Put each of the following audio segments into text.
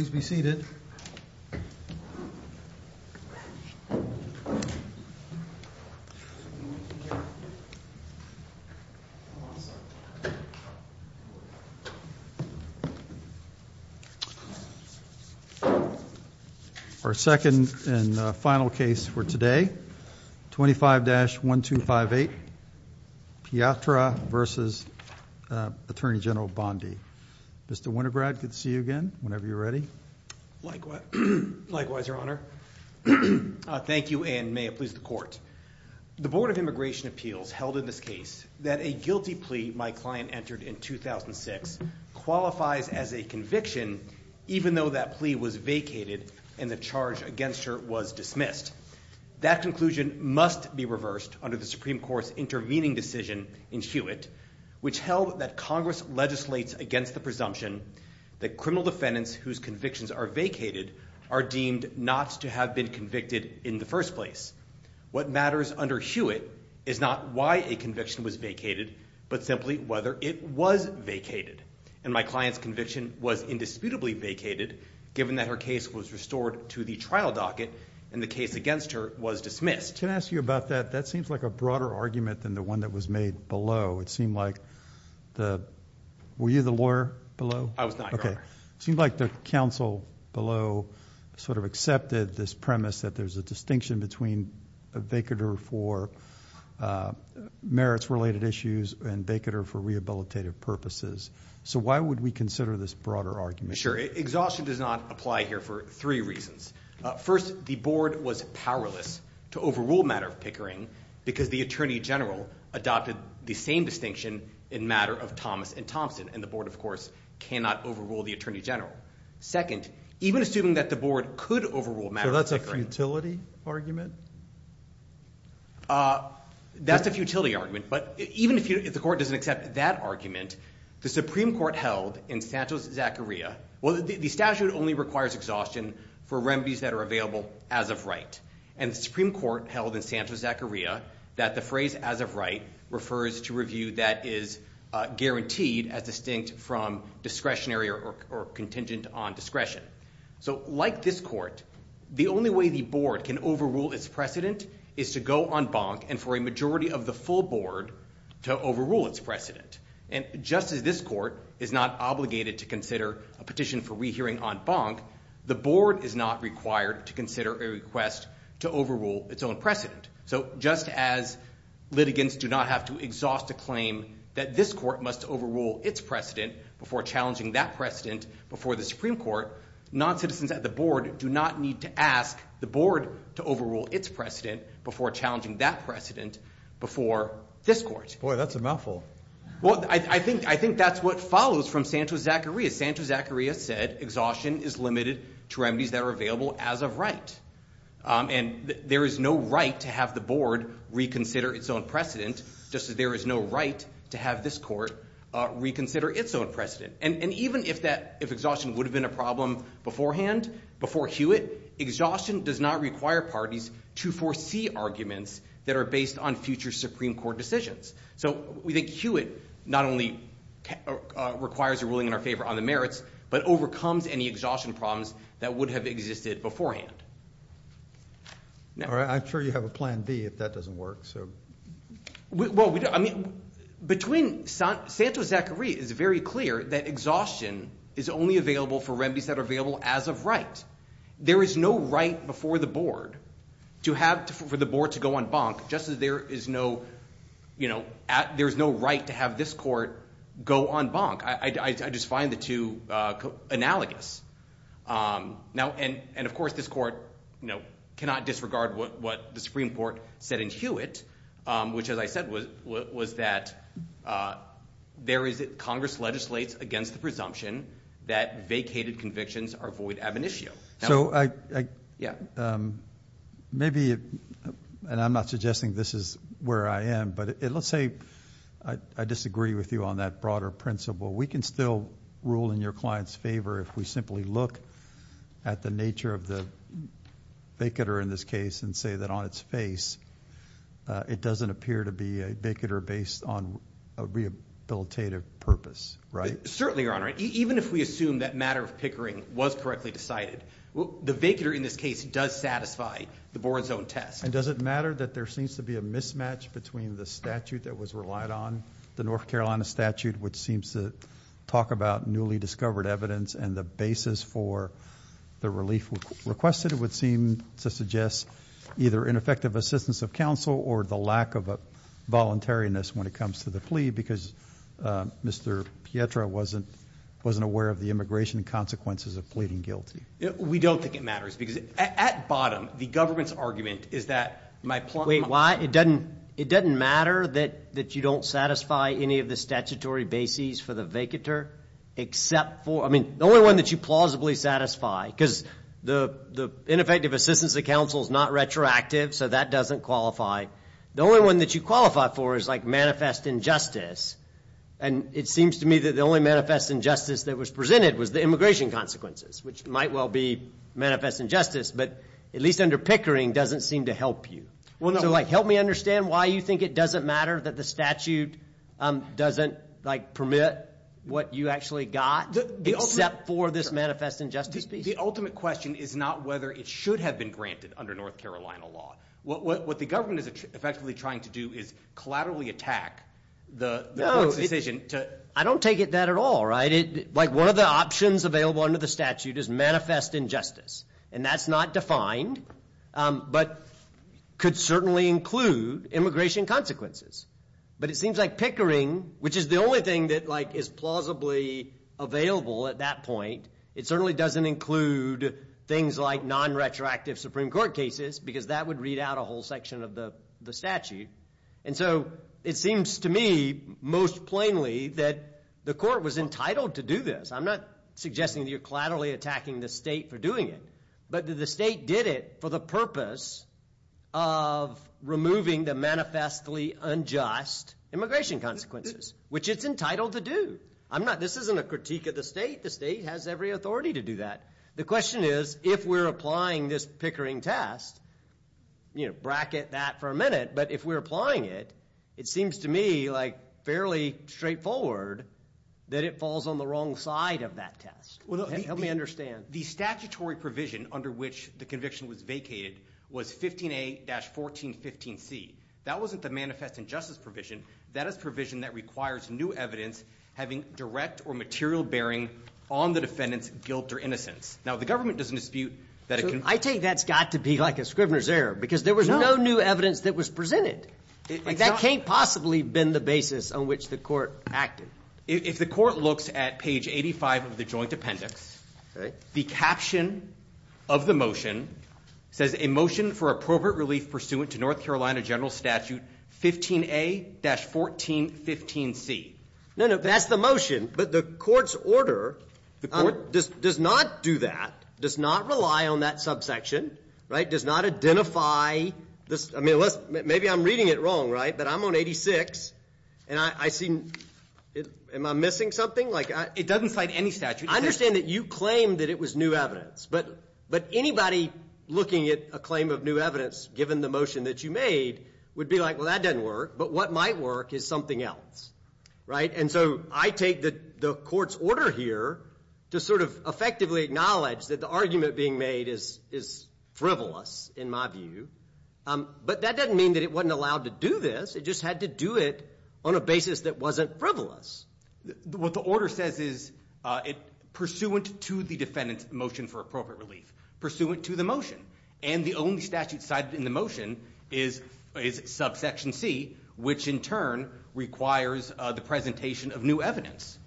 Please be seated. Our second and final case for today, 25-1258 Piedra v. Attorney General Bondi. Mr. Winograd, good to see you again, whenever you're ready. Likewise, Your Honor. Thank you, and may it please the Court. The Board of Immigration Appeals held in this case that a guilty plea my client entered in 2006 qualifies as a conviction even though that plea was vacated and the charge against her was dismissed. That conclusion must be reversed under the Supreme Court's intervening decision in Hewitt, which held that Congress legislates against the presumption that criminal defendants whose convictions are vacated are deemed not to have been convicted in the first place. What matters under Hewitt is not why a conviction was vacated, but simply whether it was vacated, and my client's conviction was indisputably vacated given that her case was restored to the trial docket and the case against her was dismissed. Can I ask you about that? That seems like a broader argument than the one that was made below. It seemed like the – were you the lawyer below? I was not, Your Honor. Okay. It seemed like the counsel below sort of accepted this premise that there's a distinction between a vacater for merits-related issues and a vacater for rehabilitative purposes. So why would we consider this broader argument? Sure. Exhaustion does not apply here for three reasons. First, the board was powerless to overrule matter of Pickering because the attorney general adopted the same distinction in matter of Thomas and Thompson, and the board, of course, cannot overrule the attorney general. Second, even assuming that the board could overrule matter of Pickering – So that's a futility argument? That's a futility argument, but even if the court doesn't accept that argument, the Supreme Court held in Santos-Zacharia – well, the statute only requires exhaustion for remedies that are available as of right. And the Supreme Court held in Santos-Zacharia that the phrase as of right refers to review that is guaranteed as distinct from discretionary or contingent on discretion. So like this court, the only way the board can overrule its precedent is to go en banc and for a majority of the full board to overrule its precedent. And just as this court is not obligated to consider a petition for rehearing en banc, the board is not required to consider a request to overrule its own precedent. So just as litigants do not have to exhaust a claim that this court must overrule its precedent before challenging that precedent before the Supreme Court, non-citizens at the board do not need to ask the board to overrule its precedent before challenging that precedent before this court. Boy, that's a mouthful. Well, I think that's what follows from Santos-Zacharia. Santos-Zacharia said exhaustion is limited to remedies that are available as of right. And there is no right to have the board reconsider its own precedent just as there is no right to have this court reconsider its own precedent. And even if exhaustion would have been a problem beforehand, before Hewitt, exhaustion does not require parties to foresee arguments that are based on future Supreme Court decisions. So we think Hewitt not only requires a ruling in our favor on the merits, but overcomes any exhaustion problems that would have existed beforehand. I'm sure you have a plan B if that doesn't work. Between Santos-Zacharia, it's very clear that exhaustion is only available for remedies that are available as of right. There is no right before the board for the board to go en banc just as there is no, you know, there's no right to have this court go en banc. I just find the two analogous. Now, and of course, this court, you know, cannot disregard what the Supreme Court said in Hewitt, which, as I said, was that there is Congress legislates against the presumption that vacated convictions are void ad venitio. So maybe, and I'm not suggesting this is where I am, but let's say I disagree with you on that broader principle. We can still rule in your client's favor if we simply look at the nature of the vacater in this case and say that on its face, it doesn't appear to be a vacater based on a rehabilitative purpose, right? Certainly, Your Honor, even if we assume that matter of pickering was correctly decided, the vacater in this case does satisfy the board's own test. And does it matter that there seems to be a mismatch between the statute that was relied on, the North Carolina statute, which seems to talk about newly discovered evidence and the basis for the relief requested? It would seem to suggest either ineffective assistance of counsel or the lack of a voluntariness when it comes to the plea, because Mr. Pietra wasn't aware of the immigration consequences of pleading guilty. We don't think it matters because at bottom, the government's argument is that my point... Wait, why? It doesn't matter that you don't satisfy any of the statutory bases for the vacater, except for, I mean, the only one that you plausibly satisfy, because the ineffective assistance of counsel is not retroactive. So that doesn't qualify. The only one that you qualify for is like manifest injustice. And it seems to me that the only manifest injustice that was presented was the immigration consequences, which might well be manifest injustice, but at least under pickering doesn't seem to help you. Well, help me understand why you think it doesn't matter that the statute doesn't permit what you actually got, except for this manifest injustice piece? The ultimate question is not whether it should have been granted under North Carolina law. What the government is effectively trying to do is collaterally attack the court's decision to... I don't take it that at all, right? Like one of the options available under the statute is manifest injustice, and that's not defined, but could certainly include immigration consequences. But it seems like pickering, which is the only thing that is plausibly available at that point, it certainly doesn't include things like non-retroactive Supreme Court cases, because that would read out a whole section of the statute. And so it seems to me most plainly that the court was entitled to do this. I'm not suggesting that you're collaterally attacking the state for doing it, but that the state did it for the purpose of removing the manifestly unjust immigration consequences, which it's entitled to do. I'm not... this isn't a critique of the state. The state has every authority to do that. The question is, if we're applying this pickering test, bracket that for a minute, but if we're applying it, it seems to me like fairly straightforward that it falls on the wrong side of that test. Help me understand. The statutory provision under which the conviction was vacated was 15A-1415C. That wasn't the manifest injustice provision. That is provision that requires new evidence having direct or material bearing on the defendant's guilt or innocence. Now, the government doesn't dispute that... So I take that's got to be like a Scribner's error, because there was no new evidence that was presented. That can't possibly been the basis on which the court acted. If the court looks at page 85 of the joint appendix, the caption of the motion says, a motion for appropriate relief pursuant to North Carolina General Statute 15A-1415C. No, no, that's the motion. But the court's order does not do that, does not rely on that subsection, right, does not identify this. I mean, maybe I'm reading it wrong, right? But I'm on 86, and I see... Am I missing something? Like... It doesn't cite any statute. I understand that you claim that it was new evidence, but anybody looking at a claim of new evidence given the motion that you made would be like, well, that doesn't work. But what might work is something else, right? And so I take the court's order here to sort of effectively acknowledge that the argument being made is frivolous, in my view. But that doesn't mean that it wasn't allowed to do this. It just had to do it on a basis that wasn't frivolous. What the order says is, pursuant to the defendant's motion for appropriate relief, pursuant to the motion, and the only statute cited in the motion is subsection C, which in turn requires the presentation of new evidence.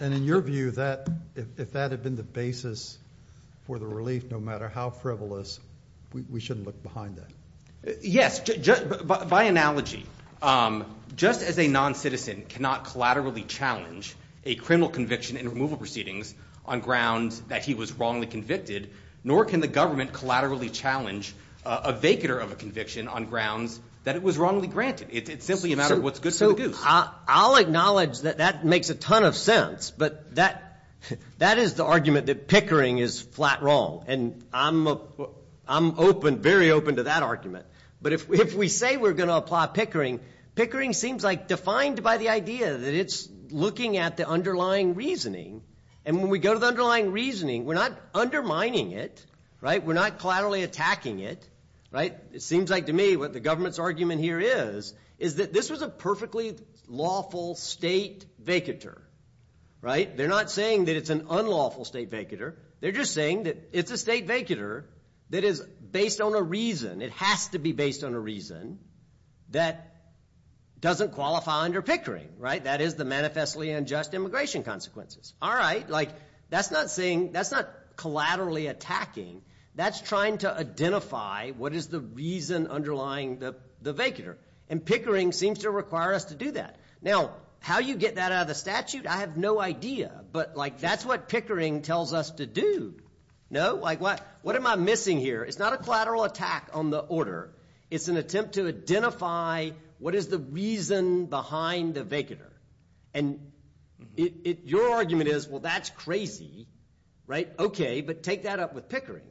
And in your view, if that had been the basis for the relief, no matter how frivolous, we shouldn't look behind that. Yes. By analogy, just as a non-citizen cannot collaterally challenge a criminal conviction in removal proceedings on grounds that he was wrongly convicted, nor can the government collaterally challenge a vacater of a conviction on grounds that it was wrongly granted. It's simply a matter of what's good for the goose. So I'll acknowledge that that makes a ton of sense, but that is the argument that Pickering is flat wrong. And I'm open, very open to that argument. But if we say we're going to apply Pickering, Pickering seems like defined by the idea that it's looking at the underlying reasoning. And when we go to the underlying reasoning, we're not undermining it, right? We're not collaterally attacking it, right? It seems like to me what the government's argument here is, is that this was a perfectly lawful state vacater, right? They're not saying that it's an unlawful state vacater. They're just saying that it's a state vacater that is based on a reason. It has to be based on a reason that doesn't qualify under Pickering, right? That is the manifestly unjust immigration consequences. All right. Like that's not saying, that's not collaterally attacking. That's trying to identify what is the reason underlying the vacater. And Pickering seems to require us to do that. Now, how you get that out of the statute, I have no idea. But like that's what Pickering tells us to do, no? Like what am I missing here? It's not a collateral attack on the order. It's an attempt to identify what is the reason behind the vacater. And your argument is, well, that's crazy, right? OK, but take that up with Pickering,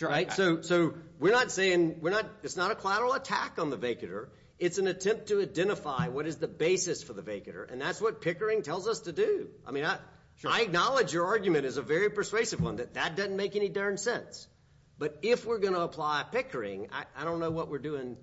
right? So we're not saying, it's not a collateral attack on the vacater. It's an attempt to identify what is the basis for the vacater. And that's what Pickering tells us to do. I mean, I acknowledge your argument is a very persuasive one, that that doesn't make any darn sense. But if we're going to apply Pickering, I don't know what we're doing,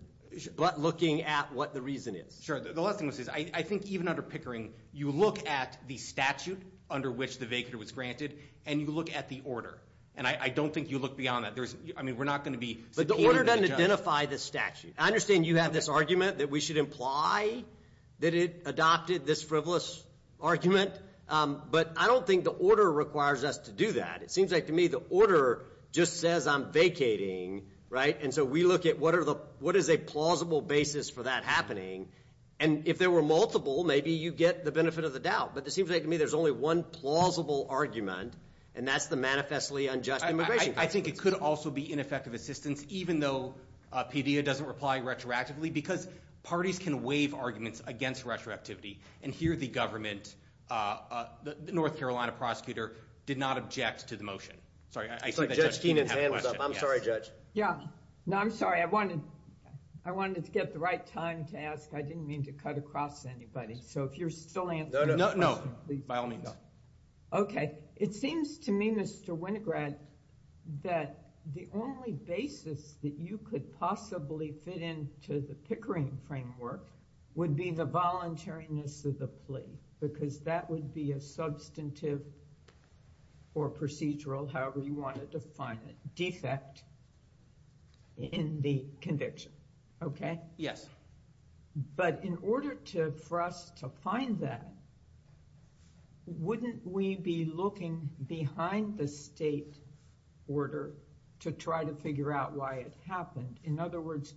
but looking at what the reason is. Sure. The last thing I'll say is, I think even under Pickering, you look at the statute under which the vacater was granted, and you look at the order. And I don't think you look beyond that. There's, I mean, we're not going to be- But the order doesn't identify the statute. I understand you have this argument that we should imply that it adopted this frivolous argument. But I don't think the order requires us to do that. It seems like to me, the order just says I'm vacating, right? And so we look at what is a plausible basis for that happening. And if there were multiple, maybe you get the benefit of the doubt. But it seems like to me, there's only one plausible argument, and that's the manifestly unjust immigration- I think it could also be ineffective assistance, even though PDA doesn't reply retroactively, because parties can waive arguments against retroactivity. And here the government, the North Carolina prosecutor, did not object to the motion. Sorry, I see that Judge Keenan has a question. I'm sorry, Judge. Yeah. No, I'm sorry. I wanted to get the right time to ask. I didn't mean to cut across anybody. So if you're still answering- No, by all means. Okay. It seems to me, Mr. Winograd, that the only basis that you could possibly fit into the Pickering framework would be the voluntariness of the plea, because that would be a substantive or procedural, however you want to define it, defect in the conviction. Okay? Yes. But in order for us to find that, wouldn't we be looking behind the state order to try to figure out why it happened? In other words,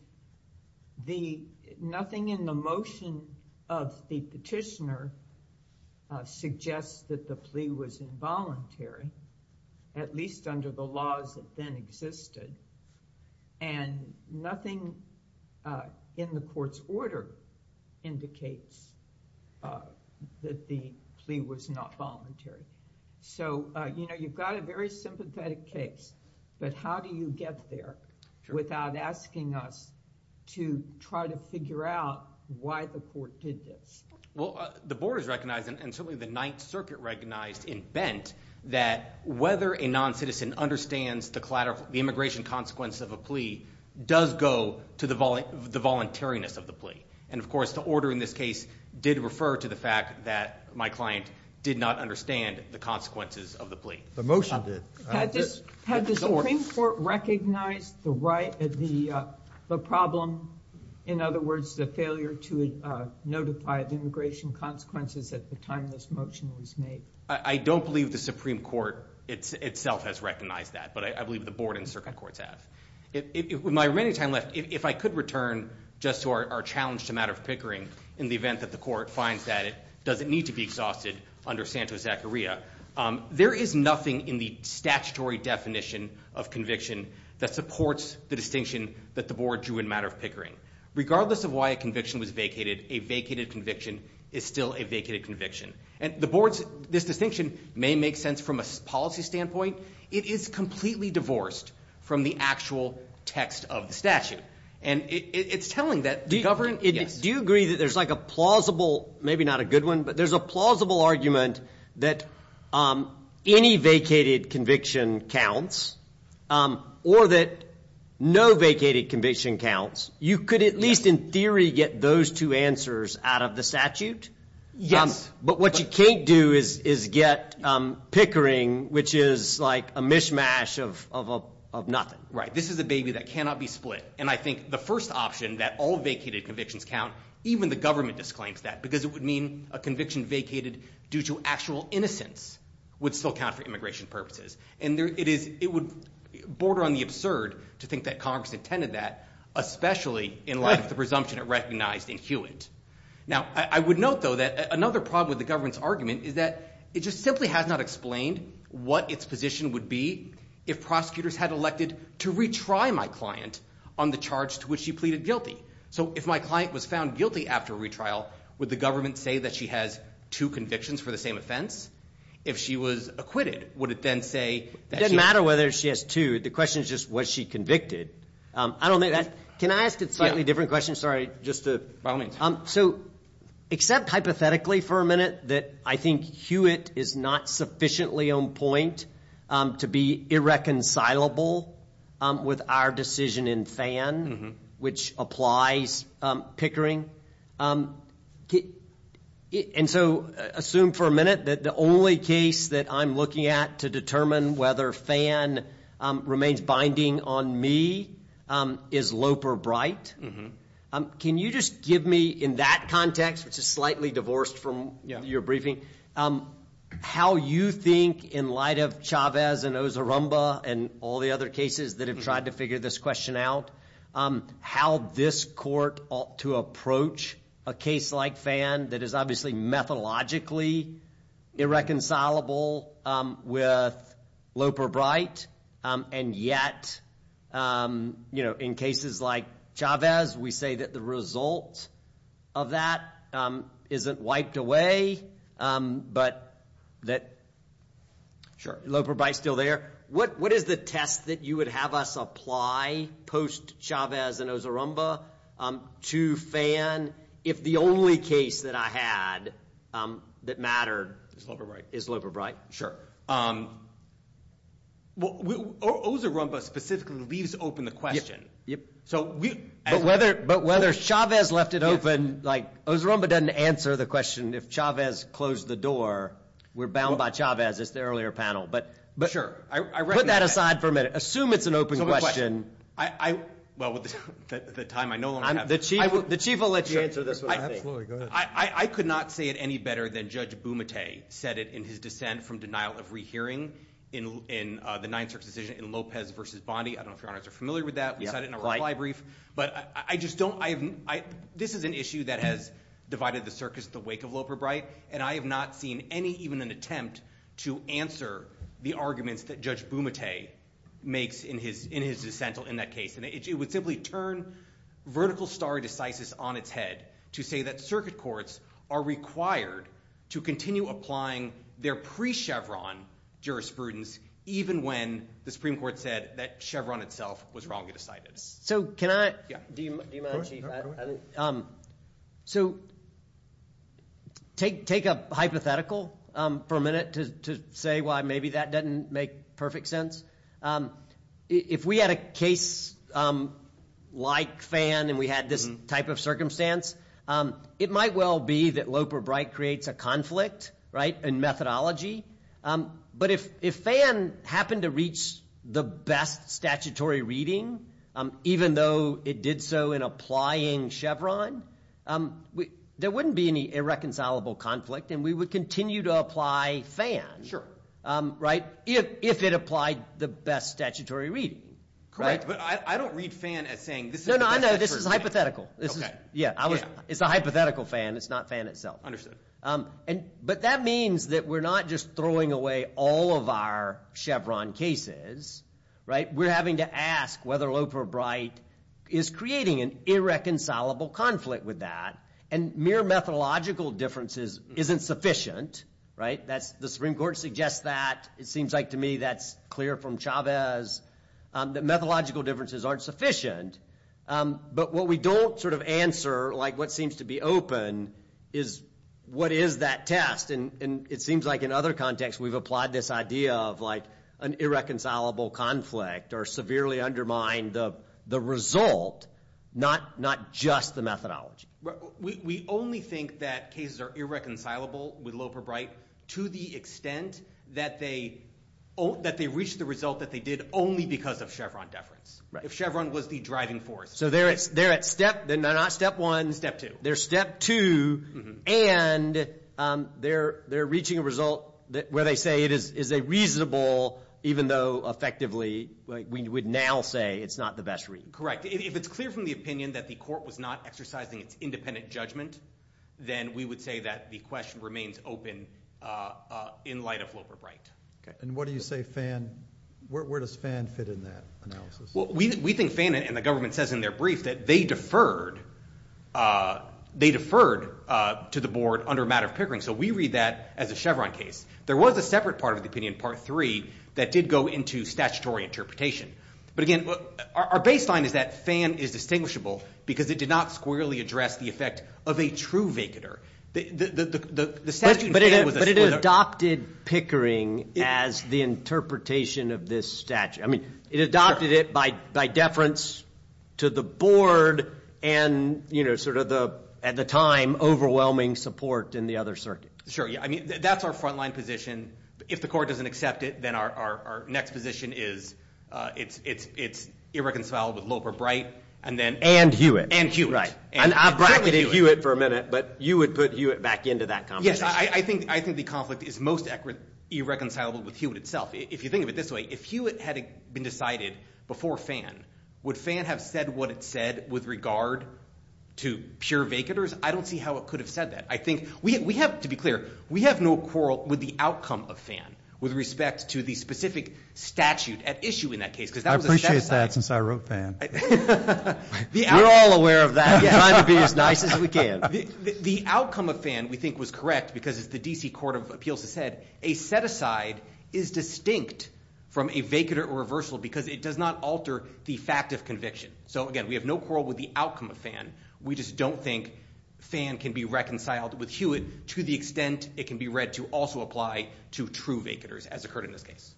nothing in the motion of the petitioner suggests that the plea was involuntary, at least under the laws that then existed, and nothing in the court's order indicates that the plea was not voluntary. So you've got a very sympathetic case, but how do you get there without asking us to try to figure out why the court did this? Well, the board has recognized, and certainly the Ninth Circuit recognized in Bent, that whether a non-citizen understands the immigration consequence of a plea does go to the voluntariness of the plea. And of course, the order in this case did refer to the fact that my client did not understand the consequences of the plea. The motion did. Had the Supreme Court recognized the problem, in other words, the failure to notify the immigration consequences at the time this motion was made? I don't believe the Supreme Court itself has recognized that, but I believe the board and circuit courts have. With my remaining time left, if I could return just to our challenge to matter of pickering in the event that the court finds that it doesn't need to be exhausted under Santos-Zacharia, there is nothing in the statutory definition of conviction that supports the distinction that the board drew in matter of pickering. Regardless of why a conviction was vacated, a vacated conviction is still a vacated conviction. And this distinction may make sense from a policy standpoint. It is completely divorced from the actual text of the statute. And it's telling that the government... Do you agree that there's like a plausible, maybe not a good one, but there's a plausible argument that any vacated conviction counts or that no vacated conviction counts. You could, at least in theory, get those two answers out of the statute. Yes. But what you can't do is get pickering, which is like a mishmash of nothing. Right. This is a baby that cannot be split. And I think the first option that all vacated convictions count, even the government disclaims that because it would mean a conviction vacated due to actual innocence would still count for immigration purposes. And it would border on the absurd to think that Congress intended that, especially in light of the presumption it recognized in Hewitt. Now, I would note, though, that another problem with the government's argument is that it just simply has not explained what its position would be if prosecutors had elected to retry my client on the charge to which she pleaded guilty. So if my client was found guilty after a retrial, would the government say that she has two convictions for the same offense? If she was acquitted, would it then say... It doesn't matter whether she has two. The question is just, was she convicted? I don't think that... Can I ask a slightly different question? Sorry. Just by all means. So except hypothetically for a minute that I think Hewitt is not sufficiently on point to be irreconcilable with our decision in Fan, which applies Pickering. And so assume for a minute that the only case that I'm looking at to determine whether Fan remains binding on me is Loper Bright. Can you just give me, in that context, which is slightly divorced from your briefing, how you think in light of Chavez and Ozarumba and all the other cases that have tried to figure this question out, how this court ought to approach a case like Fan that is obviously methodologically irreconcilable with Loper Bright. And yet, in cases like Chavez, we say that the result of that isn't wiped away, but that Loper Bright's still there. What is the test that you would have us apply post Chavez and Ozarumba to Fan if the only case that I had that mattered is Loper Bright? Ozarumba specifically leaves open the question. So as a matter of fact- But whether Chavez left it open, like Ozarumba doesn't answer the question if Chavez closed the door, we're bound by Chavez, as the earlier panel. But put that aside for a minute. Assume it's an open question. Well, with the time I no longer have. The Chief will let you answer this one. Absolutely, go ahead. I could not say it any better than Judge Bumate said it in his dissent from denial of rehearing in the Ninth Circuit decision in Lopez versus Bondi. I don't know if your honors are familiar with that. You said it in a reply brief, but I just don't, this is an issue that has divided the circus at the wake of Loper Bright, and I have not seen any, even an attempt to answer the arguments that Judge Bumate makes in his dissent in that case. And it would simply turn vertical stare decisis on its head to say that circuit courts are required to continue applying their pre-Chevron jurisprudence even when the Supreme Court said that Chevron itself was wrongly decided. So can I, do you mind Chief? So take a hypothetical for a minute to say why maybe that doesn't make perfect sense. If we had a case like Fan and we had this type of circumstance, it might well be that Loper Bright creates a conflict, right, in methodology. But if Fan happened to reach the best statutory reading, even though it did so in applying Chevron, there wouldn't be any irreconcilable conflict, and we would continue to apply Fan, right, if it applied the best statutory reading. Correct, but I don't read Fan as saying, this is the best statutory reading. No, no, I know, this is hypothetical. Okay. Yeah, it's a hypothetical Fan. It's not Fan itself. Understood. But that means that we're not just throwing away all of our Chevron cases, right? We're having to ask whether Loper Bright is creating an irreconcilable conflict with that. And mere methodological differences isn't sufficient, right? That's, the Supreme Court suggests that. It seems like to me that's clear from Chavez that methodological differences aren't sufficient. But what we don't sort of answer, like what seems to be open is, what is that test? And it seems like in other contexts, we've applied this idea of like an irreconcilable conflict or severely undermine the result, not just the methodology. We only think that cases are irreconcilable with Loper Bright to the extent that they reach the result that they did only because of Chevron deference. Right. If Chevron was the driving force. So they're at step, not step one. Step two. They're step two and they're reaching a result where they say it is a reasonable, even though effectively, we would now say it's not the best reading. Correct. If it's clear from the opinion that the court was not exercising its independent judgment, then we would say that the question remains open in light of Loper Bright. Okay. And what do you say Fan, where does Fan fit in that analysis? We think Fan and the government says in their brief that they deferred to the board under a matter of Pickering. So we read that as a Chevron case. There was a separate part of the opinion, part three, that did go into statutory interpretation. But again, our baseline is that Fan is distinguishable because it did not squarely address the effect of a true vacater. But it adopted Pickering as the interpretation of this statute. It adopted it by deference to the board and at the time, overwhelming support in the other circuit. Sure. I mean, that's our frontline position. If the court doesn't accept it, then our next position is it's irreconcilable with Loper Bright and then- And Hewitt. And Hewitt. Right. And I've bracketed Hewitt for a minute, but you would put Hewitt back into that conversation. Yes, I think the conflict is most irreconcilable with Hewitt itself. If you think of it this way, if Hewitt had been decided before Fan, would Fan have said what it said with regard to pure vacaters? I don't see how it could have said that. I think we have, to be clear, we have no quarrel with the outcome of Fan with respect to the specific statute at issue in that case. Because that was a set-aside. I appreciate that since I wrote Fan. We're all aware of that. We're trying to be as nice as we can. The outcome of Fan, we think, was correct because, as the DC Court of Appeals has said, a set-aside is distinct from a vacater or reversal because it does not alter the fact of conviction. So again, we have no quarrel with the outcome of Fan. We just don't think Fan can be reconciled with Hewitt to the extent it can be read to also apply to true vacaters, as occurred in this case.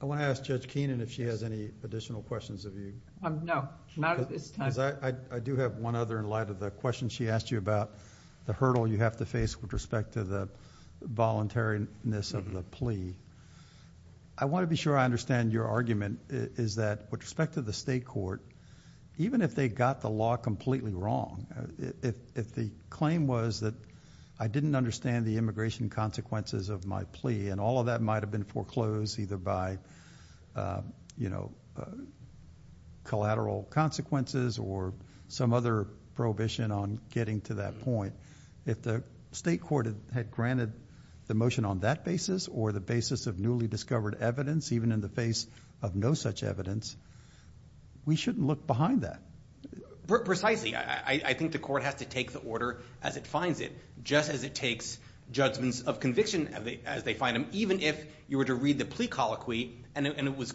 I want to ask Judge Keenan if she has any additional questions of you. No. I do have one other in light of the question she asked you about the hurdle you have to face with respect to the voluntariness of the plea. I want to be sure I understand your argument is that, with respect to the state court, even if they got the law completely wrong, if the claim was that I didn't understand the immigration consequences of my plea and all of that might have been foreclosed either by collateral consequences or some other prohibition on getting to that point, if the state court had granted the motion on that basis or the basis of newly discovered evidence, even in the face of no such evidence, we shouldn't look behind that. Precisely. I think the court has to take the order as it finds it, just as it takes judgments of conviction as they find them, even if you were to read the plea colloquy and it was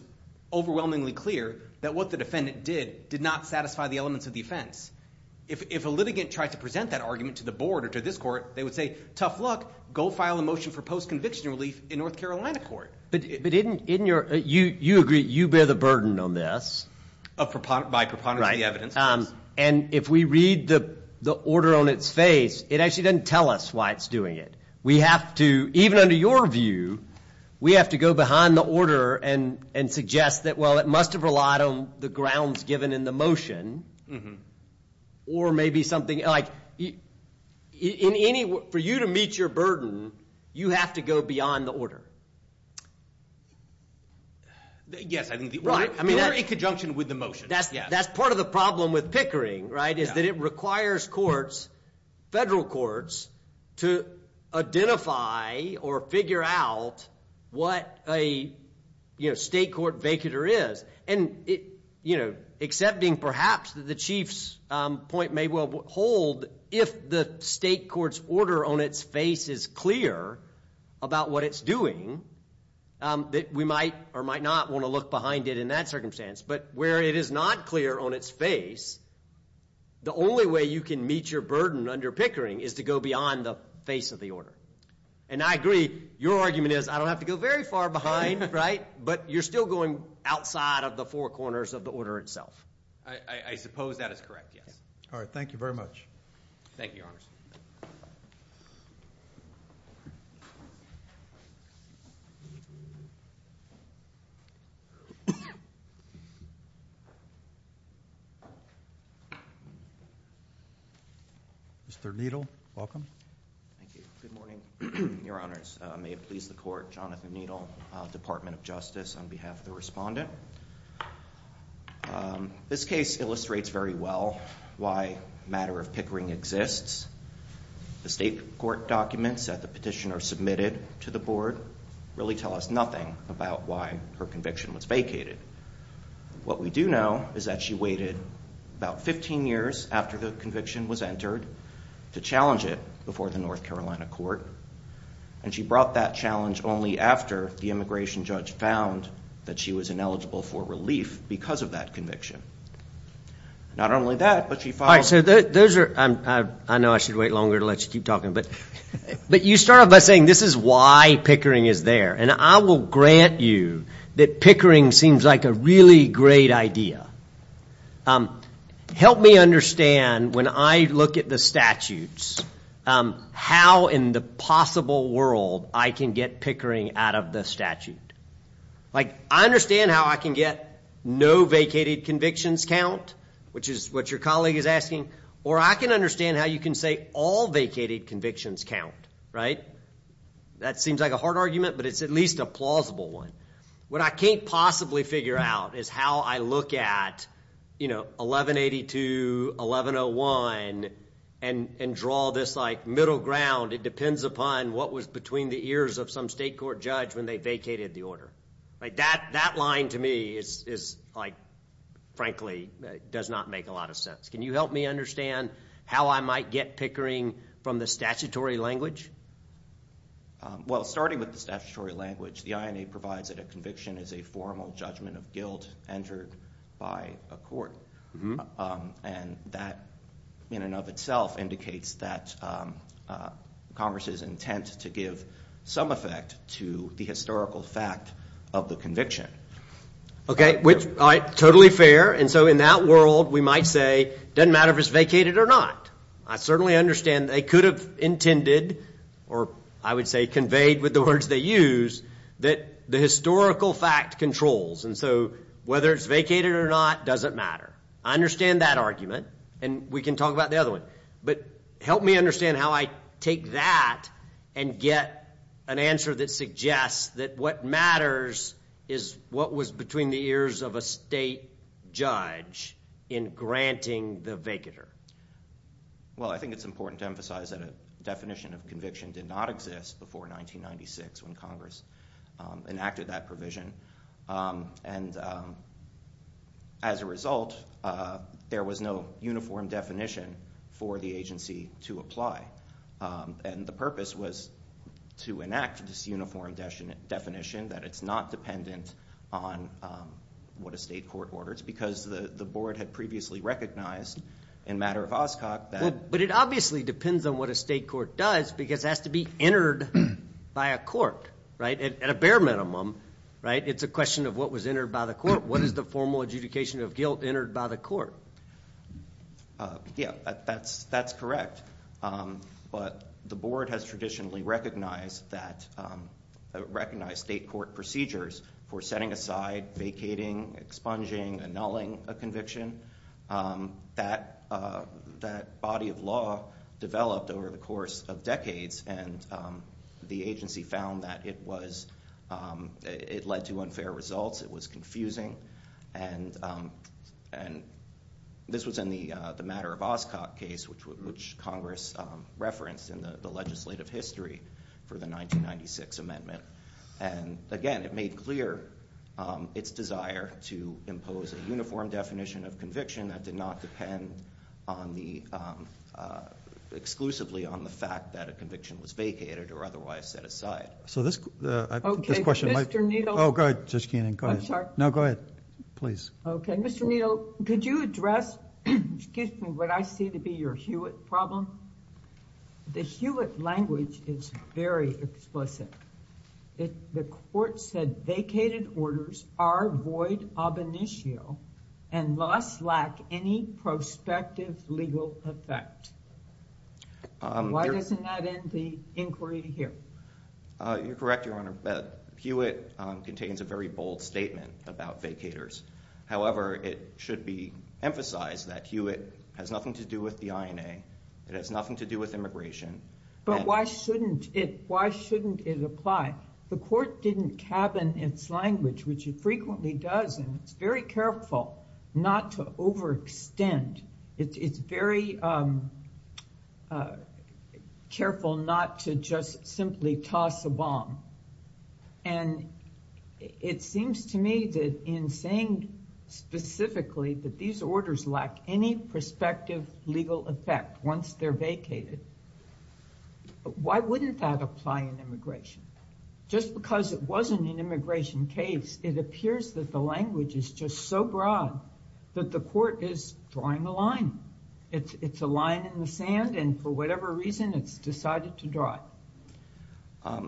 overwhelmingly clear that what the defendant did did not satisfy the elements of the offense. If a litigant tried to present that argument to the board or to this court, they would say, tough luck. Go file a motion for post-conviction relief in North Carolina court. But you agree you bear the burden on this. By preponderance of the evidence. And if we read the order on its face, it actually doesn't tell us why it's doing it. We have to, even under your view, we have to go behind the order and suggest that, well, it must have relied on the grounds given in the motion. Or maybe something like, for you to meet your burden, you have to go beyond the order. Yes, I think the order in conjunction with the motion. That's part of the problem with pickering, right? Is that it requires courts, federal courts, to identify or figure out what a state court vacater is. And accepting perhaps that the chief's point may well hold, if the state court's order on its face is clear about what it's doing, that we might or might not want to look behind it in that circumstance. But where it is not clear on its face, the only way you can meet your burden under pickering is to go beyond the face of the order. And I agree, your argument is, I don't have to go very far behind, right? But you're still going outside of the four corners of the order itself. I suppose that is correct, yes. All right, thank you very much. Thank you, your honors. Mr. Needle, welcome. Thank you. Good morning, your honors. May it please the court, Jonathan Needle, Department of Justice, on behalf of the respondent. This case illustrates very well why matter of pickering exists. The state court documents that the petitioner submitted to the board really tell us nothing about why her conviction was vacated. What we do know is that she waited about 15 years after the conviction was entered to challenge it before the North Carolina court. And she brought that challenge only after the immigration judge found that she was ineligible for relief because of that conviction. Not only that, but she followed... All right, so those are... I know I should wait longer to let you keep talking, but you start off by saying this is why pickering is there. And I will grant you that pickering seems like a really great idea. Help me understand when I look at the statutes, how in the possible world I can get pickering out of the statute. I understand how I can get no vacated convictions count, which is what your colleague is asking, or I can understand how you can say all vacated convictions count, right? That seems like a hard argument, but it's at least a plausible one. What I can't possibly figure out is how I look at 1182, 1101, and draw this like middle ground. It depends upon what was between the ears of some state court judge when they vacated the order. Like that line to me is like, frankly, does not make a lot of sense. Can you help me understand how I might get pickering from the statutory language? Well, starting with the statutory language, the INA provides that a conviction is a formal judgment of guilt entered by a court. And that in and of itself indicates that Congress's intent to give some effect to the historical fact of the conviction. Okay, which, all right, totally fair. And so in that world, we might say, doesn't matter if it's vacated or not. I certainly understand they could have intended, or I would say conveyed with the words they use, that the historical fact controls. And so whether it's vacated or not doesn't matter. I understand that argument, and we can talk about the other one. But help me understand how I take that and get an answer that suggests that what matters is what was between the ears of a state judge in granting the vacater. Well, I think it's important to emphasize that a definition of conviction did not exist before 1996 when Congress enacted that provision. And as a result, there was no uniform definition for the agency to apply. And the purpose was to enact this uniform definition that it's not dependent on what a state court orders because the board had previously recognized in matter of Oscok that- But it obviously depends on what a state court does because it has to be entered by a court, right? At a bare minimum, right? It's a question of what was entered by the court. What is the formal adjudication of guilt entered by the court? Yeah, that's correct. But the board has traditionally recognized state court procedures for setting aside, vacating, expunging, annulling a conviction. That body of law developed over the course of decades and the agency found that it led to unfair results. It was confusing. And this was in the matter of Oscok case, which Congress referenced in the legislative history for the 1996 amendment. And again, it made clear its desire to impose a uniform definition of conviction that did not depend exclusively on the fact that a conviction was vacated or otherwise set aside. So this question might- Okay, Mr. Needle- Oh, go ahead, Judge Keenan, go ahead. I'm sorry. No, go ahead, please. Okay, Mr. Needle, could you address, excuse me, what I see to be your Hewitt problem? The Hewitt language is very explicit. The court said vacated orders are void ab initio and thus lack any prospective legal effect. And why doesn't that end the inquiry here? You're correct, Your Honor. Hewitt contains a very bold statement about vacators. However, it should be emphasized that Hewitt has nothing to do with the INA. It has nothing to do with immigration. But why shouldn't it apply? The court didn't cabin its language, which it frequently does. And it's very careful not to overextend. It's very careful not to just simply toss a bomb. And it seems to me that in saying specifically that these orders lack any prospective legal effect once they're vacated, why wouldn't that apply in immigration? Just because it wasn't an immigration case, it appears that the language is just so broad that the court is drawing a line. It's a line in the sand. And for whatever reason, it's decided to draw it.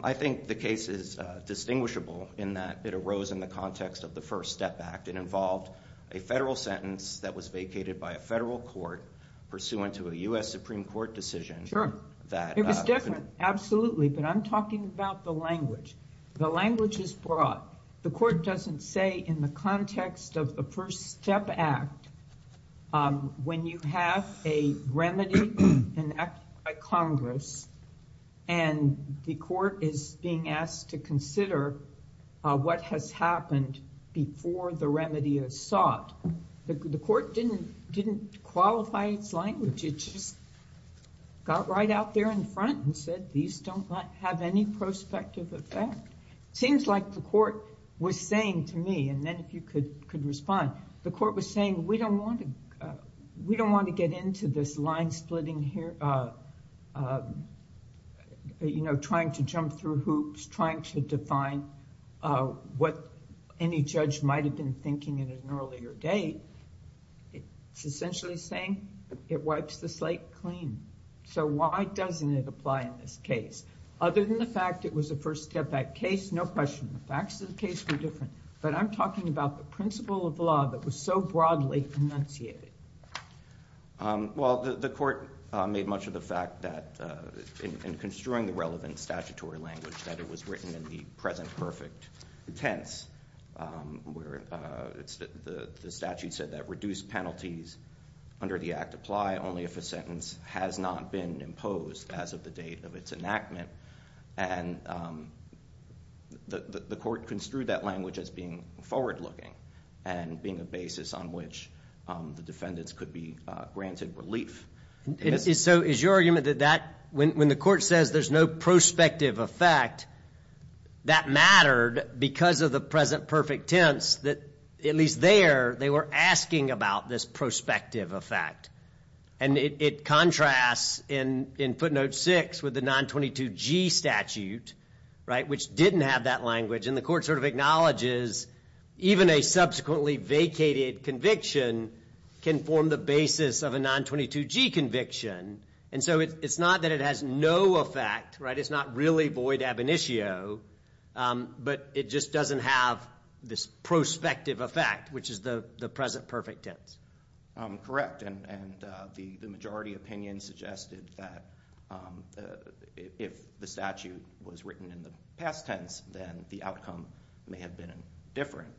I think the case is distinguishable in that it arose in the context of the First Step Act. It involved a federal sentence that was vacated by a federal court pursuant to a U.S. Supreme Court decision. Sure, it was different, absolutely. But I'm talking about the language. The language is broad. The court doesn't say in the context of the First Step Act when you have a remedy enacted by Congress and the court is being asked to consider what has happened before the remedy is sought. The court didn't qualify its language. It just got right out there in front and said these don't have any prospective effect. Seems like the court was saying to me, and then if you could respond, the court was saying, we don't want to get into this line splitting here, trying to jump through hoops, trying to define what any judge might've been thinking at an earlier date. It's essentially saying it wipes the slate clean. So why doesn't it apply in this case? Other than the fact it was a First Step Act case, no question, the facts of the case were different. But I'm talking about the principle of law that was so broadly enunciated. Well, the court made much of the fact that in construing the relevant statutory language that it was written in the present perfect tense where the statute said that reduced penalties under the act apply only if a sentence has not been imposed as of the date of its enactment. And the court construed that language as being forward looking and being a basis on which the defendants could be granted relief. So is your argument that when the court says there's no prospective effect, that mattered because of the present perfect tense that at least there, they were asking about this prospective effect. And it contrasts in footnote six with the 922G statute, right, which didn't have that language. And the court sort of acknowledges even a subsequently vacated conviction can form the basis of a 922G conviction. And so it's not that it has no effect, right? It's not really void ab initio, but it just doesn't have this prospective effect, which is the present perfect tense. Correct, and the majority opinion suggested that if the statute was written in the past tense, then the outcome may have been different.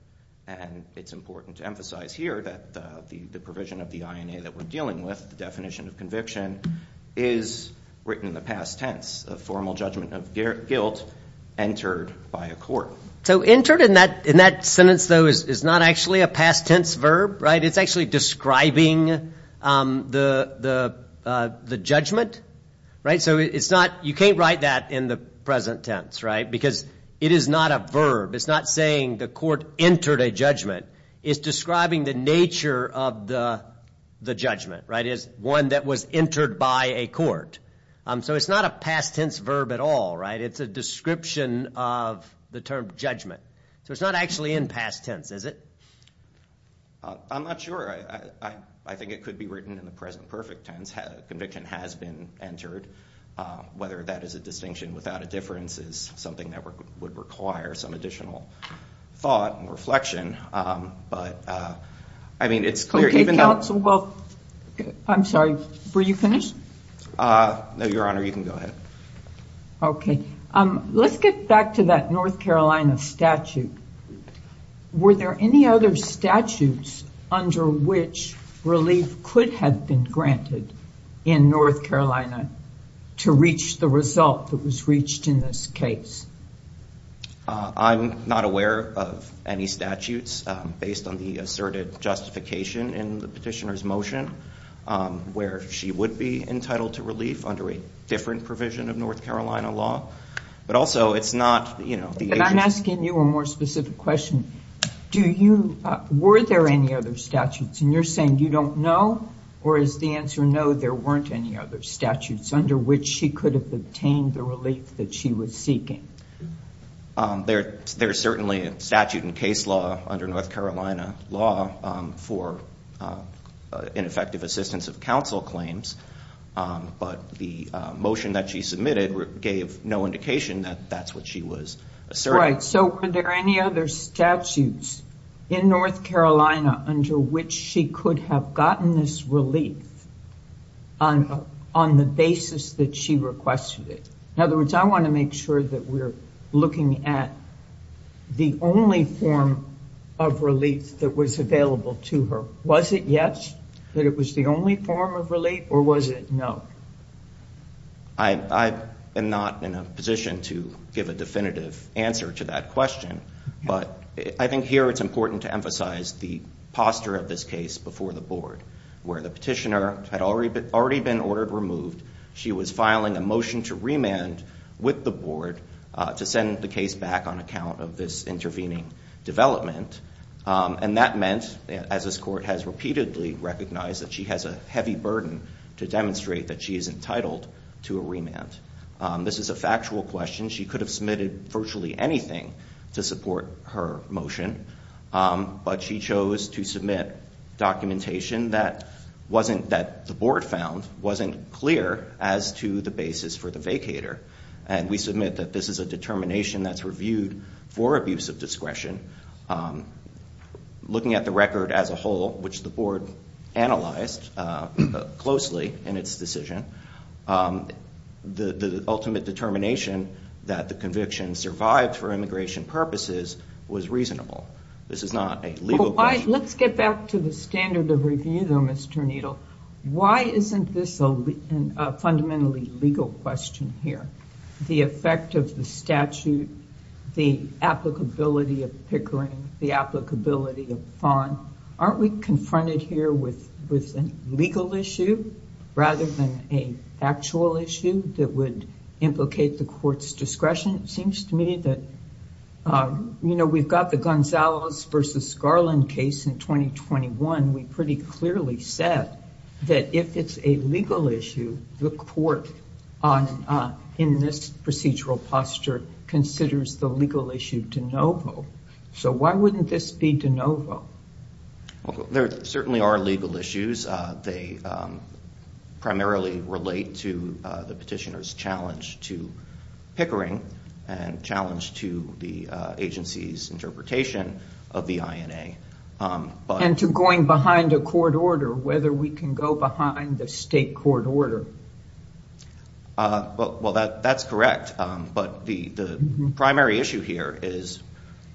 And it's important to emphasize here that the provision of the INA that we're dealing with, the definition of conviction, is written in the past tense, a formal judgment of guilt entered by a court. So entered in that sentence though is not actually a past tense verb, right? It's not actually describing the judgment, right? So it's not, you can't write that in the present tense, right? Because it is not a verb. It's not saying the court entered a judgment. It's describing the nature of the judgment, right? Is one that was entered by a court. So it's not a past tense verb at all, right? It's a description of the term judgment. So it's not actually in past tense, is it? I'm not sure. I think it could be written in the present perfect tense. Conviction has been entered. Whether that is a distinction without a difference is something that would require some additional thought and reflection. But I mean, it's clear. Okay, counsel, well, I'm sorry, were you finished? No, Your Honor, you can go ahead. Okay, let's get back to that North Carolina statute. Were there any other statutes under which relief could have been granted in North Carolina to reach the result that was reached in this case? I'm not aware of any statutes based on the asserted justification in the petitioner's motion where she would be entitled to relief under a different provision of North Carolina law. But also, it's not, you know, the agency... I'm asking you a more specific question. Do you, were there any other statutes? And you're saying you don't know? Or is the answer no, there weren't any other statutes under which she could have obtained the relief that she was seeking? There's certainly a statute in case law under North Carolina law for ineffective assistance of counsel claims. But the motion that she submitted gave no indication that that's what she was asserting. So were there any other statutes in North Carolina under which she could have gotten this relief on the basis that she requested it? In other words, I want to make sure that we're looking at the only form of relief that was available to her. Was it yes, that it was the only form of relief, or was it no? I am not in a position to give a definitive answer to that question. But I think here it's important to emphasize the posture of this case before the board, where the petitioner had already been ordered removed. She was filing a motion to remand with the board to send the case back on account of this intervening development. And that meant, as this court has repeatedly recognized, that she has a heavy burden to demonstrate that she is entitled to a remand. This is a factual question. She could have submitted virtually anything to support her motion. But she chose to submit documentation that the board found wasn't clear as to the basis for the vacator. And we submit that this is a determination that's reviewed for abuse of discretion. Looking at the record as a whole, which the board analyzed closely in its decision, the ultimate determination that the conviction survived for immigration purposes was reasonable. This is not a legal question. Let's get back to the standard of review, though, Mr. Needle. Why isn't this a fundamentally legal question here? The effect of the statute, the applicability of Pickering, the applicability of Fon. Aren't we confronted here with a legal issue rather than a factual issue that would implicate the court's discretion? It seems to me that, you know, we've got the Gonzalez versus Garland case in 2021. We pretty clearly said that if it's a legal issue, the court in this procedural posture considers the legal issue de novo. So why wouldn't this be de novo? There certainly are legal issues. They primarily relate to the petitioner's challenge to Pickering and challenge to the agency's interpretation of the INA. And to going behind a court order, whether we can go behind the state court order. Well, that's correct. But the primary issue here is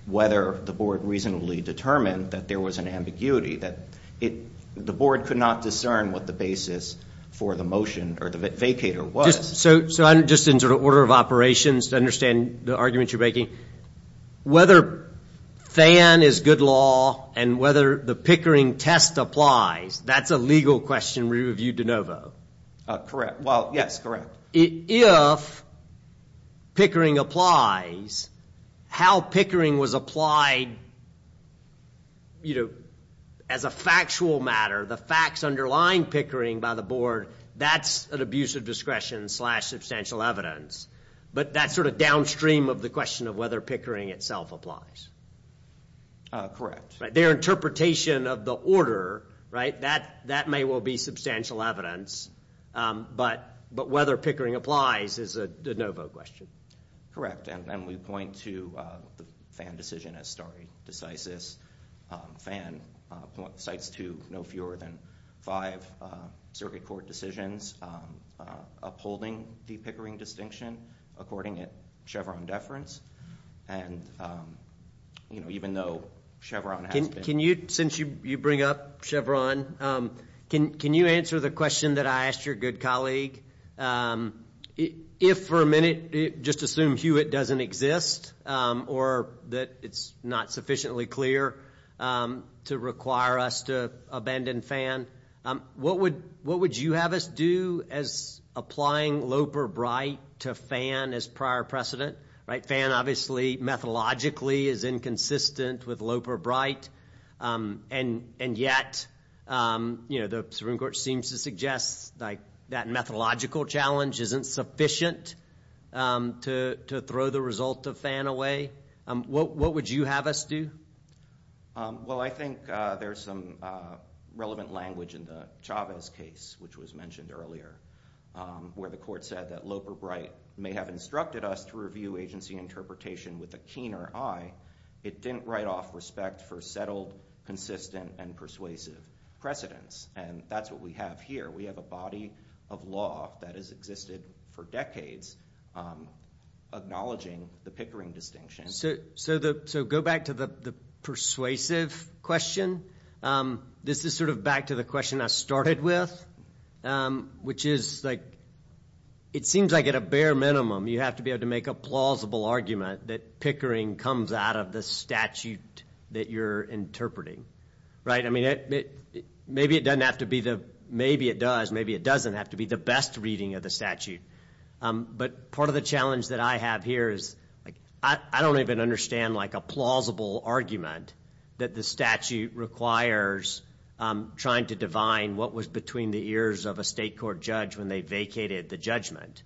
whether the board reasonably determined that there was an ambiguity, that the board could not discern what the basis for the motion or the vacator was. So just in sort of order of operations to understand the arguments you're making, whether FAN is good law and whether the Pickering test applies, that's a legal question re-reviewed de novo. Correct. Well, yes, correct. If Pickering applies, how Pickering was applied, you know, as a factual matter, the facts underlying Pickering by the board, that's an abuse of discretion slash substantial evidence. But that's sort of downstream of the question of whether Pickering itself applies. Correct. Their interpretation of the order, right, that may well be substantial evidence. But whether Pickering applies is a de novo question. Correct. And we point to the FAN decision as stare decisis. FAN cites two, no fewer than five circuit court decisions upholding the Pickering distinction according to Chevron deference. And, you know, even though Chevron has been... Can you, since you bring up Chevron, can you answer the question that I asked your good colleague? If for a minute, just assume Hewitt doesn't exist or that it's not sufficiently clear to require us to abandon FAN, what would you have us do as applying Lope or Bright to FAN as prior precedent? Right, FAN obviously methodologically is inconsistent with Lope or Bright. And yet, you know, the Supreme Court seems to suggest that methodological challenge isn't sufficient to throw the result of FAN away. What would you have us do? Well, I think there's some relevant language in the Chavez case, which was mentioned earlier, where the court said that Lope or Bright may have instructed us to review agency interpretation with a keener eye. It didn't write off respect for settled, consistent, and persuasive precedents. And that's what we have here. We have a body of law that has existed for decades acknowledging the Pickering distinction. So go back to the persuasive question. This is sort of back to the question I started with, which is like, it seems like at a bare minimum, you have to be able to make a plausible argument that Pickering comes out of the statute that you're interpreting, right? I mean, maybe it doesn't have to be the best reading of the statute. But part of the challenge that I have here is I don't even understand like a plausible argument that the statute requires trying to divine what was between the ears of a state court judge when they vacated the judgment,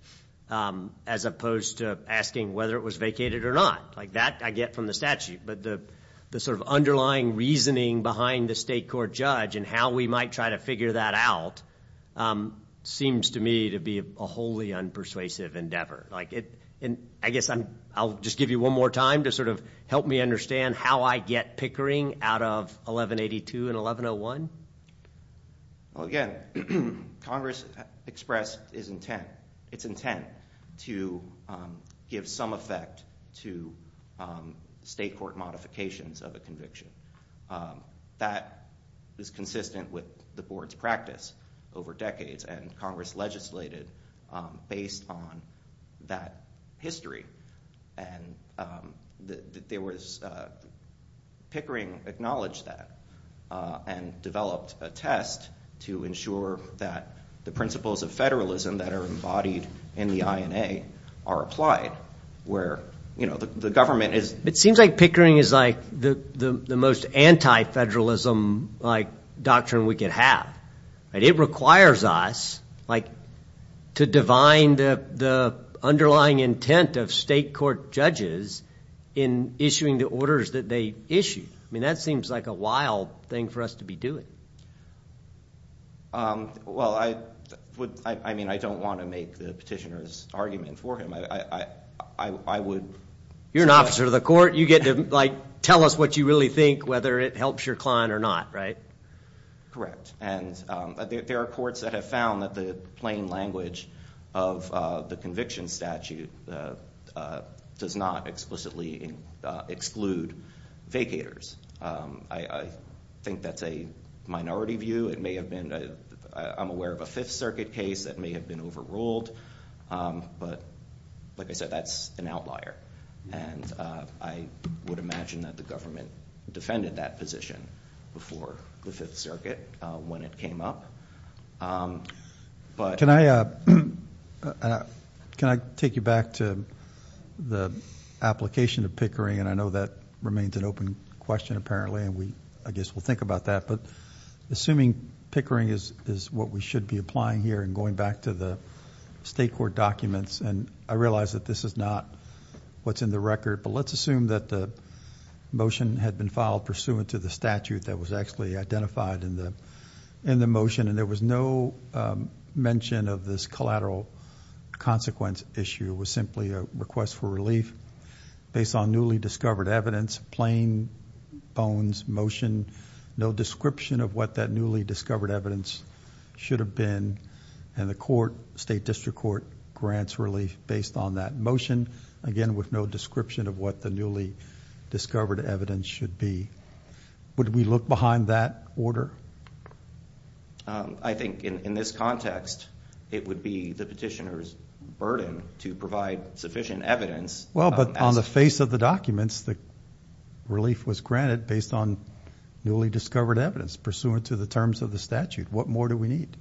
as opposed to asking whether it was vacated or not. Like that I get from the statute. But the sort of underlying reasoning behind the state court judge and how we might try to figure that out seems to me to be a wholly unpersuasive endeavor. And I guess I'll just give you one more time to sort of help me understand how I get Pickering out of 1182 and 1101. Well, again, Congress expressed its intent to give some effect to state court modifications of a conviction. That is consistent with the board's practice over decades. And Congress legislated based on that history. And Pickering acknowledged that and developed a test to ensure that the principles of federalism that are embodied in the INA are applied, where the government is- like doctrine we could have. And it requires us to divine the underlying intent of state court judges in issuing the orders that they issue. I mean, that seems like a wild thing for us to be doing. Well, I mean, I don't want to make the petitioner's argument for him. I would- You're an officer of the court. You get to tell us what you really think, whether it helps your client or not, right? Correct. And there are courts that have found that the plain language of the conviction statute does not explicitly exclude vacators. I think that's a minority view. It may have been- I'm aware of a Fifth Circuit case that may have been overruled. But like I said, that's an outlier. And I would imagine that the government defended that position before the Fifth Circuit when it came up. Can I take you back to the application of pickering? And I know that remains an open question, apparently. And I guess we'll think about that. But assuming pickering is what we should be applying here and going back to the state court documents. And I realize that this is not what's in the record. But let's assume that the motion had been filed pursuant to the statute that was actually identified in the motion. And there was no mention of this collateral consequence issue. It was simply a request for relief based on newly discovered evidence, plain bones motion, no description of what that newly discovered evidence should have been. And the court, state district court, grants relief based on that motion. Again, with no description of what the newly discovered evidence should be. Would we look behind that order? I think in this context, it would be the petitioner's burden to provide sufficient evidence. Well, but on the face of the documents, the relief was granted based on newly discovered evidence pursuant to the terms of the statute. What more do we need?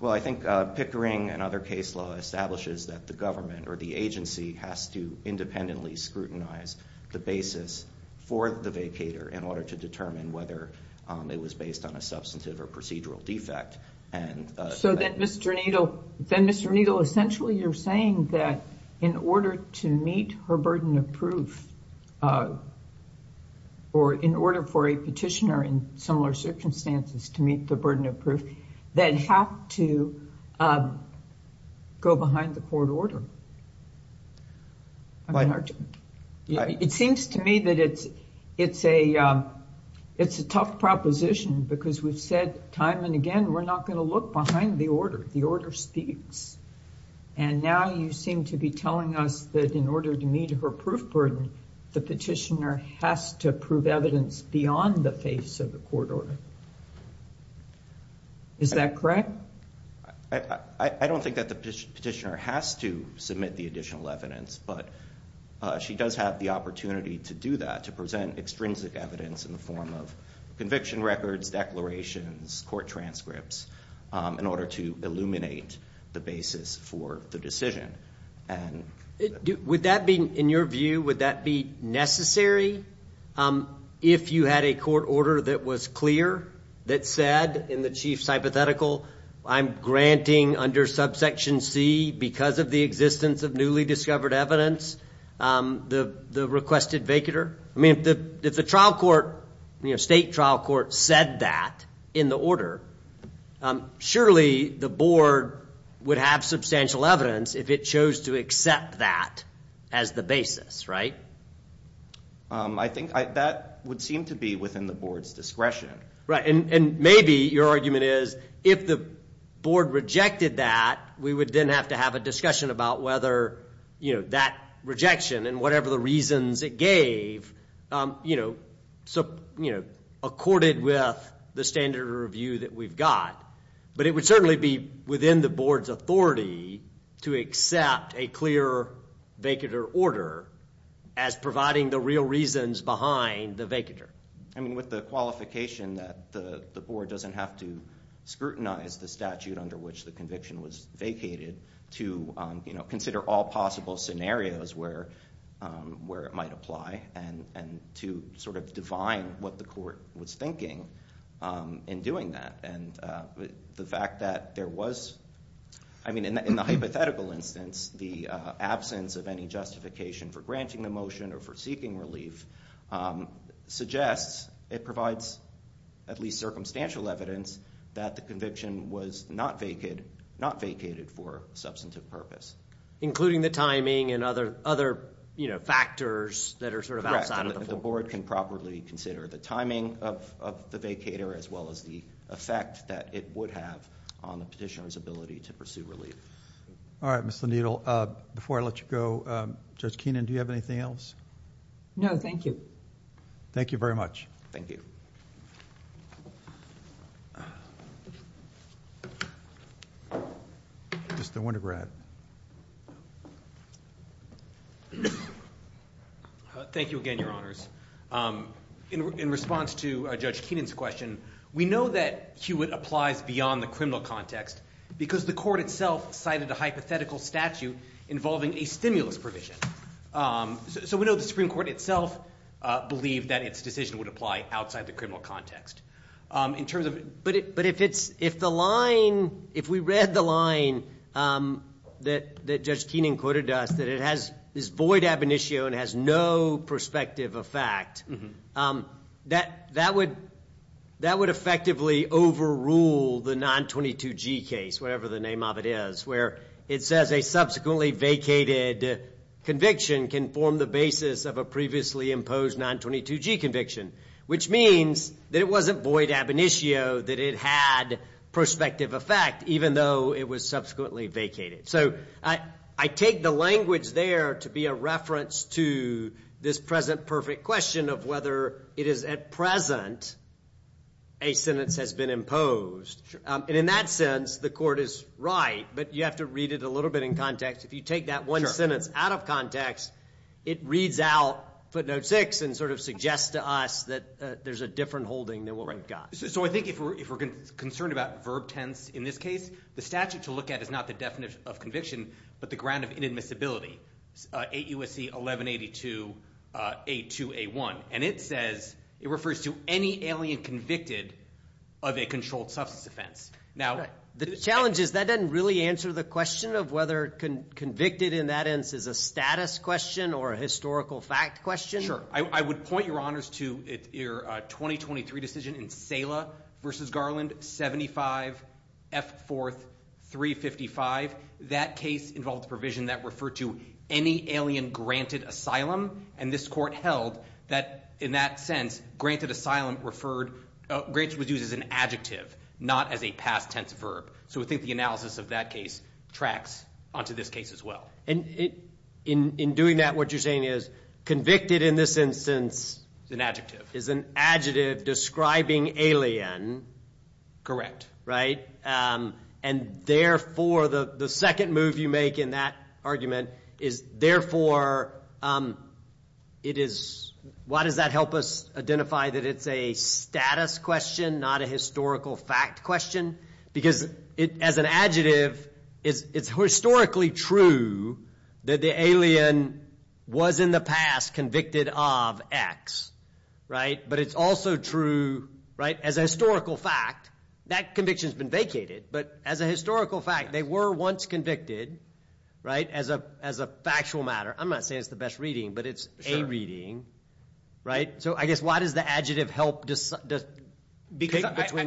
Well, I think Pickering and other case law establishes that the government or the agency has to independently scrutinize the basis for the vacator in order to determine whether it was based on a substantive or procedural defect. And- So then Mr. Needle, essentially you're saying that in order to meet her burden of proof, or in order for a petitioner in similar circumstances to meet the burden of proof, that have to go behind the court order. It seems to me that it's a tough proposition because we've said time and again, we're not going to look behind the order. The order speaks. And now you seem to be telling us that in order to meet her proof burden, the petitioner has to prove evidence beyond the face of the court order. Is that correct? I don't think that the petitioner has to submit the additional evidence, but she does have the opportunity to do that, to present extrinsic evidence in the form of conviction records, declarations, court transcripts, in order to illuminate the basis for the decision. In your view, would that be necessary if you had a court order that was clear, that said in the chief's hypothetical, I'm granting under subsection C, because of the existence of newly discovered evidence, the requested vacater? I mean, if the trial court, state trial court said that in the order, surely the board would have substantial evidence if it chose to accept that as the basis, right? I think that would seem to be within the board's discretion. Right. And maybe your argument is, if the board rejected that, we would then have to have a discussion about whether that rejection and whatever the reasons it gave, accorded with the standard of review that we've got. But it would certainly be within the board's authority to accept a clear vacater order as providing the real reasons behind the vacater. I mean, with the qualification that the board doesn't have to scrutinize the statute under which the conviction was vacated to consider all possible scenarios where it might apply and to sort of define what the court was thinking in doing that. And the fact that there was, I mean, in the hypothetical instance, the absence of any justification for granting the motion or for seeking relief suggests it provides at least circumstantial evidence that the conviction was not vacated for substantive purpose. Including the timing and other factors that are sort of outside of the board. The board can properly consider the timing of the vacater as well as the effect that it would have on the petitioner's ability to pursue relief. All right, Mr. Needle. Before I let you go, Judge Keenan, do you have anything else? No, thank you. Thank you very much. Thank you. Mr. Wintergrad. Thank you again, Your Honors. In response to Judge Keenan's question, we know that Hewitt applies beyond the criminal context because the court itself cited a hypothetical statute involving a stimulus provision. So we know the Supreme Court itself believed that its decision would apply outside the criminal context. But if we read the line that Judge Keenan quoted us, that it is void ab initio and has no prospective effect, that would effectively overrule the 922G case, whatever the name of it is, it says a subsequently vacated conviction can form the basis of a previously imposed 922G conviction, which means that it wasn't void ab initio, that it had prospective effect, even though it was subsequently vacated. So I take the language there to be a reference to this present perfect question of whether it is at present a sentence has been imposed. And in that sense, the court is right. You have to read it a little bit in context. If you take that one sentence out of context, it reads out footnote six and sort of suggests to us that there's a different holding than what we've got. So I think if we're concerned about verb tense in this case, the statute to look at is not the definition of conviction, but the ground of inadmissibility, AUSC 1182A2A1. And it says, it refers to any alien convicted of a controlled substance offense. The challenge is that doesn't really answer the question of whether convicted in that instance is a status question or a historical fact question. Sure, I would point your honors to your 2023 decision in Sela versus Garland, 75F4355. That case involved a provision that referred to any alien granted asylum. And this court held that in that sense, granted asylum referred, granted was used as an adjective, not as a past tense verb. So I think the analysis of that case tracks onto this case as well. And in doing that, what you're saying is convicted in this instance. It's an adjective. Is an adjective describing alien. Correct. Right. And therefore the second move you make in that argument is therefore it is, why does that help us identify that it's a status question, not a historical fact question? Because as an adjective, it's historically true that the alien was in the past convicted of X, right? But it's also true, right? As a historical fact, that conviction has been vacated. But as a historical fact, they were once convicted, right? As a factual matter. I'm not saying it's the best reading, but it's a reading, right? So I guess, why does the adjective help between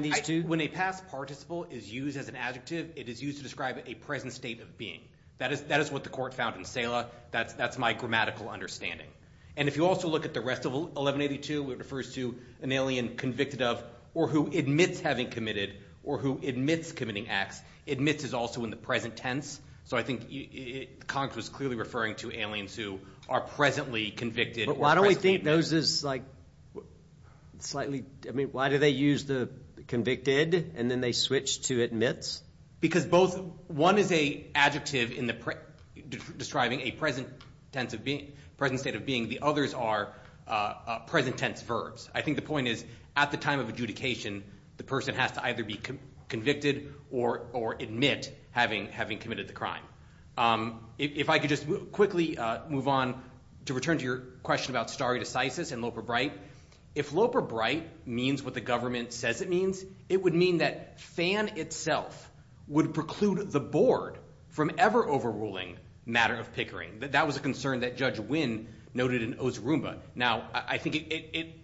these two? When a past participle is used as an adjective, it is used to describe a present state of being. That is what the court found in Sela. That's my grammatical understanding. And if you also look at the rest of 1182, where it refers to an alien convicted of, or who admits having committed, or who admits committing X, admits is also in the present tense. So I think Congress was clearly referring to aliens are presently convicted. But why don't we think those is like slightly, I mean, why do they use the convicted, and then they switch to admits? Because both, one is a adjective describing a present tense of being, present state of being. The others are present tense verbs. I think the point is, at the time of adjudication, the person has to either be convicted or admit having committed the crime. If I could just quickly move on to return to your question about stare decisis and loper bright. If loper bright means what the government says it means, it would mean that Fan itself would preclude the board from ever overruling matter of Pickering. That was a concern that Judge Wynn noted in Osirumba. Now, I think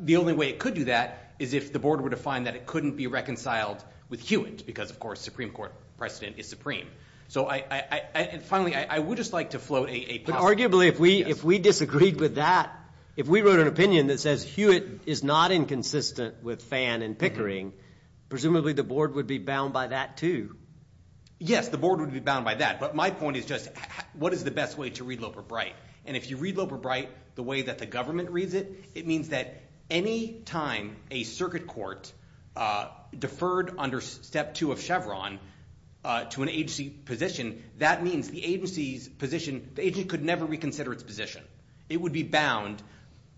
the only way it could do that is if the board were to find that it couldn't be reconciled with Hewitt, because of course, Supreme Court precedent is supreme. So I, and finally, I would just like to float a- Arguably, if we disagreed with that, if we wrote an opinion that says, Hewitt is not inconsistent with Fan and Pickering, presumably the board would be bound by that too. Yes, the board would be bound by that. But my point is just, what is the best way to read loper bright? And if you read loper bright, the way that the government reads it, it means that any time a circuit court deferred under step two of Chevron to an agency position, that means the agency's position, the agency could never reconsider its position. It would be bound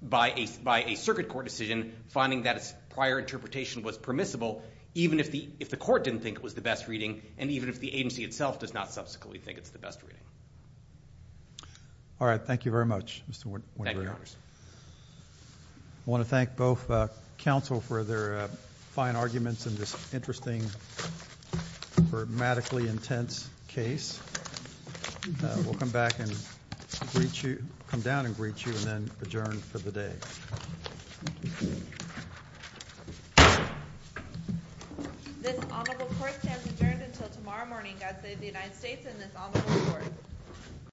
by a circuit court decision, finding that its prior interpretation was permissible, even if the court didn't think it was the best reading, and even if the agency itself does not subsequently think it's the best reading. All right, thank you very much, Mr. Wynn. Thank you, Your Honors. I want to thank both counsel for their fine arguments in this interesting, grammatically intense case. We'll come back and greet you, come down and greet you, and then adjourn for the day. This honorable court has adjourned until tomorrow morning. God save the United States and this honorable court.